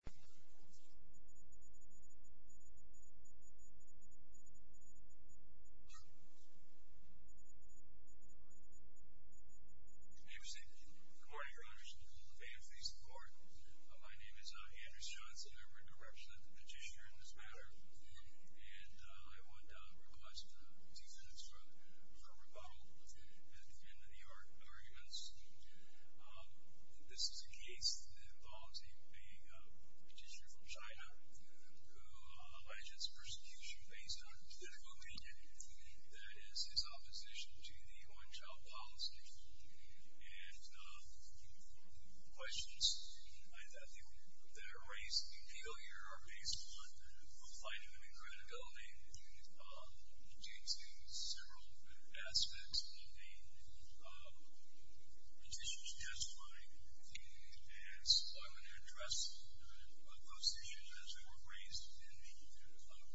Good morning, your honors. May it please the court. My name is Andrew Johnson. I'm here to represent the petitioner in this matter, and I would request defense for rebuttal at the end of the arguments. This is a case involving a petitioner from China who alleges persecution based on political opinion, that is, his opposition to the one-child policy. And the questions that are raised in the appeal here are based on refining the credibility of the petition, several aspects of the petition, justifying the demands. So I'm going to address those issues as they were raised in the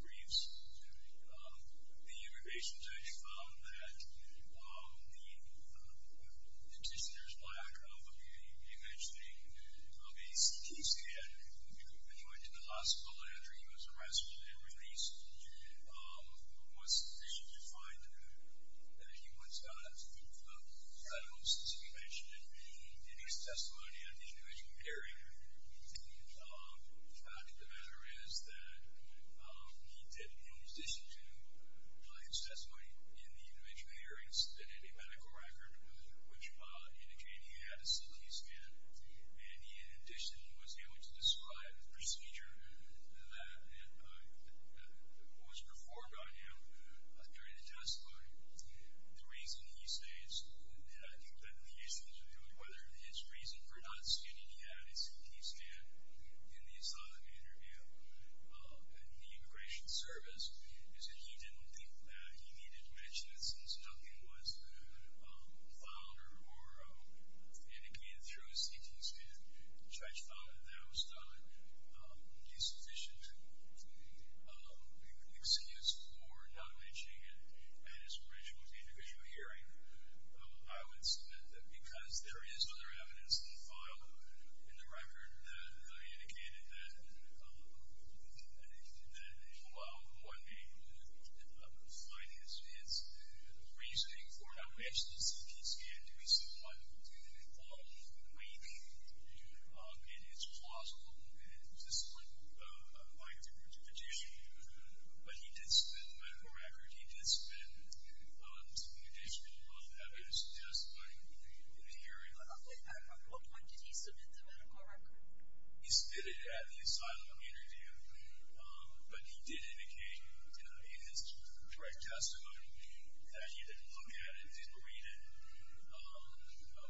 briefs. The immigration judge found that the petitioner's lack of a mentioning of a case he had joined in the hospital after he was arrested and released was sufficient to find that he was not credible, since he mentioned it in his testimony at the individual hearing. The fact of the matter is that he did in addition to his testimony in the individual hearings that had a medical record, which indicated he had a CT scan, and in addition he was able to describe the procedure that was performed on him during the testimony. The reason he states, and I think that he used the interview, whether his reason for not stating he had a CT scan in the asylum interview, in the immigration service, is that he didn't think that he needed to mention it since Duncan was the founder or indicated through his CT scan. The judge found that that was not a sufficient excuse for not mentioning it at his original individual hearing. I would submit that because there is other evidence in the file, in the record, that indicated that while one may find his reasoning for not mentioning a CT scan to someone weak, and it's plausible, it's just a lack of justification. But he did submit the medical record, he did submit an additional evidence testimony in the hearing. At what point did he submit the medical record? He submitted it at the asylum interview, but he did indicate in his direct testimony that he didn't look at it, didn't read it,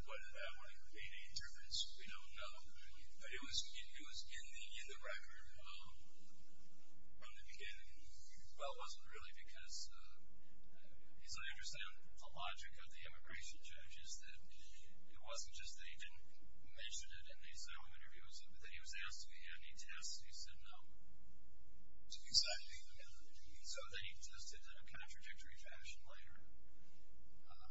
whether that would have made a difference, we don't know. But it was in the record from the beginning. Well, it wasn't really because, as I understand the logic of the immigration judge, is that it wasn't just that he didn't mention it in the asylum interview, but that he was asked if he had any tests and he said no. Exactly. So then he tested in a contradictory fashion later.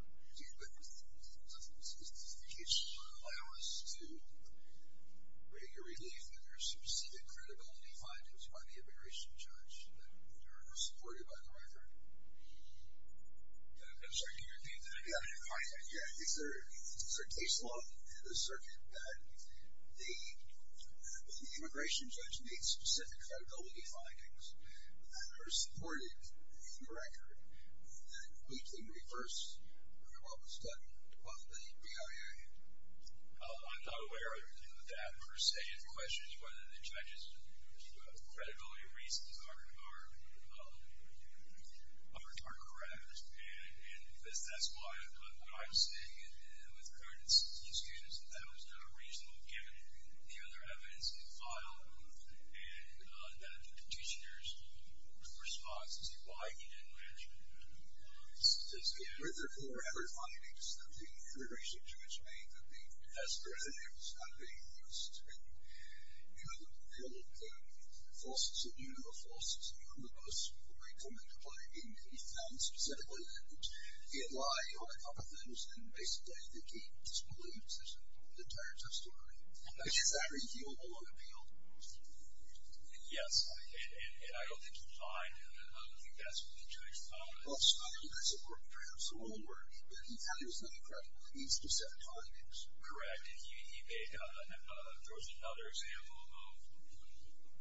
Do you think that this justification would allow us to get a relief that there are specific credibility findings by the immigration judge that are supported by the record? I'm sorry, can you repeat that again? Yeah, is there case law in the circuit that the immigration judge made specific credibility findings that are supported in the record that we can reverse while we're studying the BIA? I'm not aware of that per se. The question is whether the judge's credibility reasons are correct. And that's why I'm saying with current institutions that that was not a reasonable given the other evidence he filed and that petitioner's response to why he didn't mention statistics. Were there more evidence that the immigration judge made that the test for his name was not being used? You know, they looked at falsehoods of human rights, falsehoods of human rights. He found specifically that he had lied on a couple of things and basically that he disbelieved the entire testimony. Is that reasonable on appeal? Yes. And I don't think he lied and I don't think that's what the judge found. Well, I mean, I support the judge's own work, but he found there was nothing credible in these specific findings. Correct. There was another example of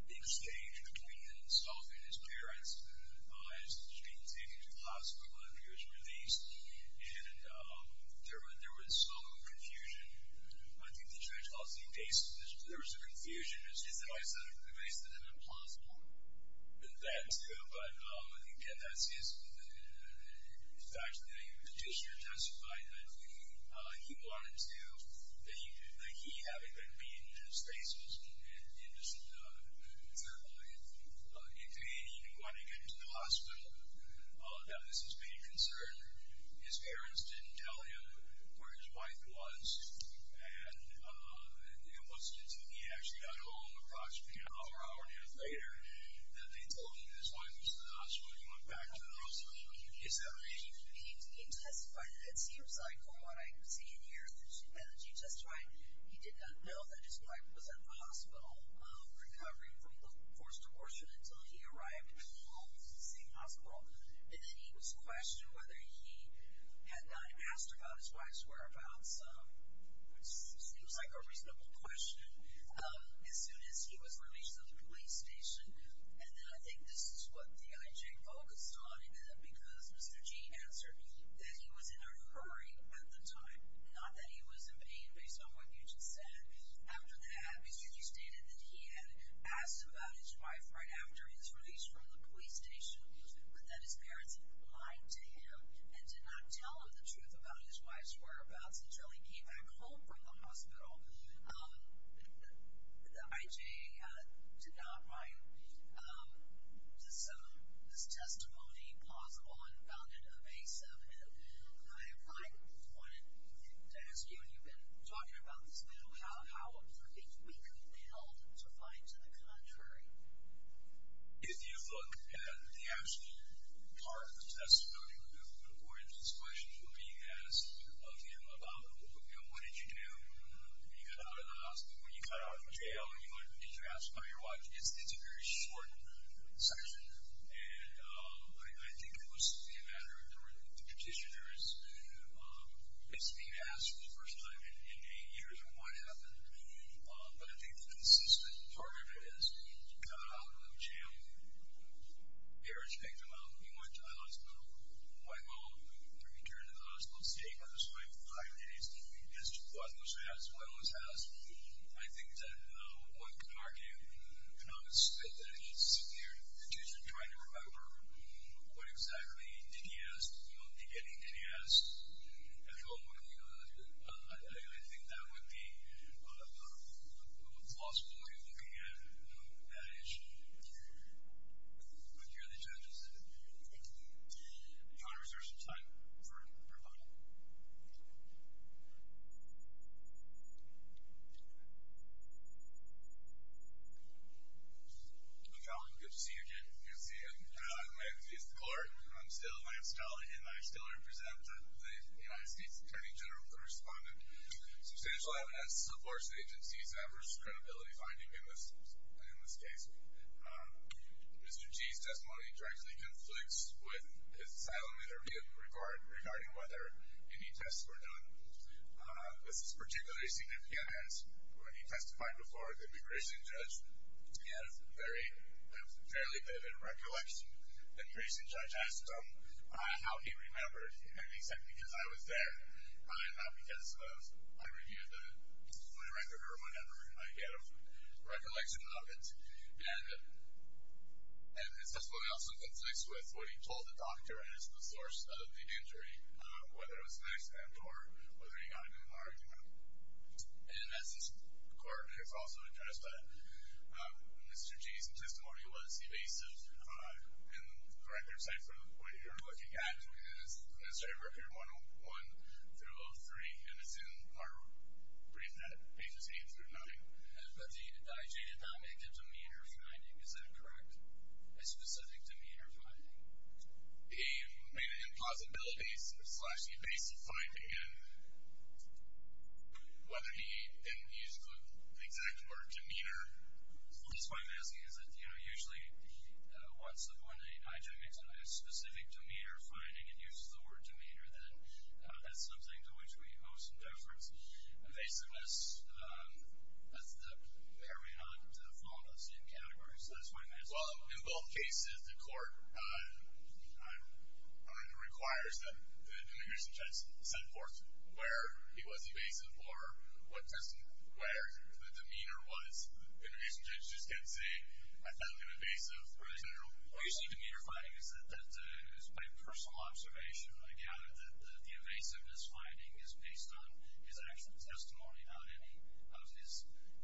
the exchange between Stolfi and his parents as he was being taken to the hospital and he was released. And there was some confusion. I think the judge calls the evasive. There was a confusion. Is an evasive an implausible? That too, but again, that's his, the fact that the petitioner testified that he wanted to, that he, that he hadn't been beaten in his face. Certainly, he didn't even want to get into the hospital. All of that was his main concern. His parents didn't tell him where his wife was and it wasn't until he actually got home approximately an hour, hour and a half later that Stolfi and his wife was in the hospital and he went back to the hospital. He testified, it seems like for what I see in here, that he testified he did not know that his wife was in the hospital recovering from the forced abortion until he arrived home from the same hospital. And then he was questioned whether he had not asked about his wife's whereabouts, which seems like a reasonable question, as soon as he was released from the police station. I think this is what the IJ focused on in it because Mr. G answered that he was in a hurry at the time, not that he was in pain based on what you just said. After that, because you stated that he had asked about his wife right after his release from the police station, but that his parents lied to him and did not tell him the truth about his wife's whereabouts until he came back home from the hospital. The IJ did not write this testimony possible and found it evasive. And I wanted to ask you, and you've been talking about this a little, how important do you think we could be held to find to the contrary? If you look at the actual part of the testimony where the abortions questions were being asked of him, about what did you do when you got out of the hospital, when you got out of jail, did you ask about your wife? It's a very short section and I think it was a matter of the petitioners. It's being asked for the first time in eight years of what happened. But I think the consistent part of it is you got out of jail, your parents picked him up, he went to the hospital, went home, returned to the hospital, stayed with his wife for five days, as to why he was harassed, why he was harassed. I think that one could argue that it's a sincere petition trying to remember what exactly did he ask, you know, beginning, did he ask? I feel like, I think that would be falsely looking at that issue. Thank you. Thank you to the judges. John, is there some time for voting? John, good to see you again. Good to see you. I'm John, I'm with the court. I'm still Lance Dolly and I still represent the United States Attorney General Correspondent. Substantial evidence supports the agency's adverse credibility finding in this case. Mr. G's testimony directly conflicts with his asylum interview regarding whether any tests were done. This is particularly significant as when he testified before the immigration judge, he had a fairly vivid recollection. The immigration judge asked him how he remembered, and he said, because I was there, not because I reviewed my record or whatever. He had a recollection of it. And it's definitely also conflicts with what he told the doctor as the source of the injury, whether it was an accident or whether he got into an argument. And as this court has also addressed that, Mr. G's testimony was evasive in the corrective site for what you're looking at, it's administrative record 101 through 03, and it's in our brief net, pages 8 through 9. But the IG did not make a demeanor finding, is that correct? A specific demeanor finding? He made an impossibility slash evasive finding, and whether he used the exact word demeanor. That's why I'm asking, is it, you know, usually once the IG makes a specific demeanor finding and uses the word demeanor, then that's something to which we owe some deference. Evasiveness, that's the paranoid phenomena, same category, so that's why I'm asking. Well, in both cases, the court requires that the immigration judge set forth where he was evasive or what doesn't, where the demeanor was. The immigration judge just can't say, I found him evasive. Right. What you see in demeanor finding is that, by personal observation, I gather that the evasiveness finding is based on his action testimony, not any of his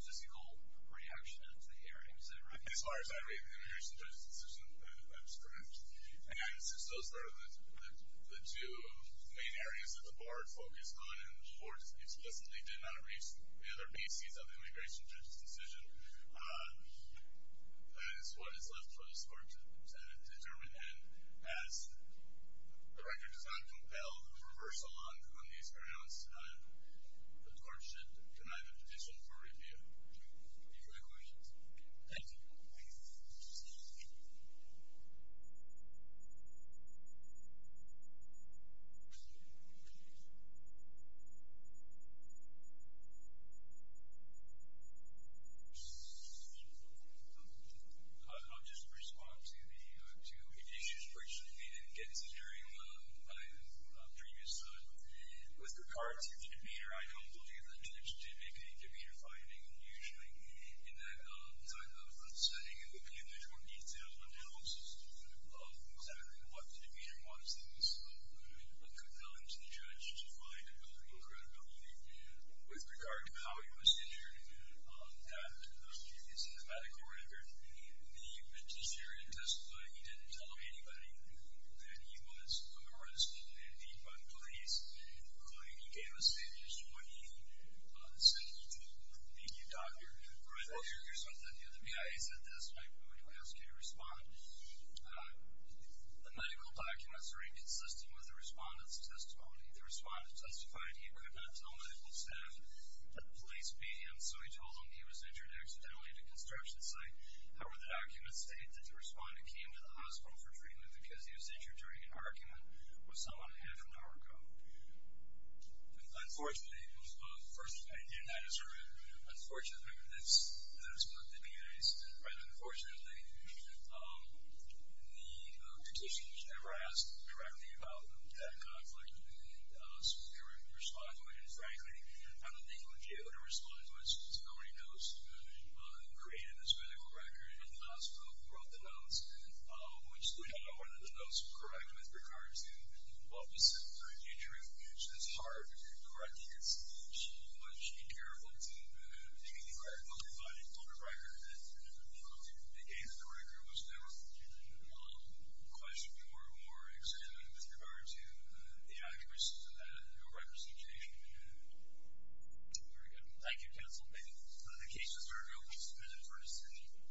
physical reaction at the hearing, is that right? As far as I read the immigration judge's decision, that is correct. And since those are the two main areas that the board focused on, and the board explicitly did not read the other pieces of the immigration judge's decision, that is what is left for the court to determine. And as the record does not compel reversal on these grounds, the court should deny the petition for review. Any further questions? Thank you. I'll just respond to the two issues briefly that we didn't get to during previous time. With regard to the demeanor, I don't believe the judge did make any demeanor finding, usually in that type of setting, it would be a much more detailed analysis of exactly what the demeanor was that was compelling to the judge with regard to how he was injured. That is in the medical record. The vegetarian testimony, he didn't tell anybody that he was arrested and beat by the police, including he gave a statement just when he said he didn't need a doctor for an ear or something. The BIA said this, and I'm going to ask you to respond. The medical documents are inconsistent with the respondent's testimony. The respondent testified he could not tell medical staff that the police beat him, so he told them he was injured accidentally at a construction site. However, the documents state that the respondent came to the hospital for treatment because he was injured during an argument with someone a half an hour ago. Unfortunately, the petition was never asked directly about that conflict. Frankly, I don't think we would be able to respond to it since nobody knows who created this medical record in the hospital who wrote the notes. We just don't know whether the notes were correct with regard to what was said during the injury. It's hard to correct these. You have to be careful to make any correct moves. If I told the record that they gave the record, it was never questioned or examined with regard to the accuracy. Your record seems to be in good condition. Very good. Thank you, counsel. The case is reviewed. This is a decision for a decision.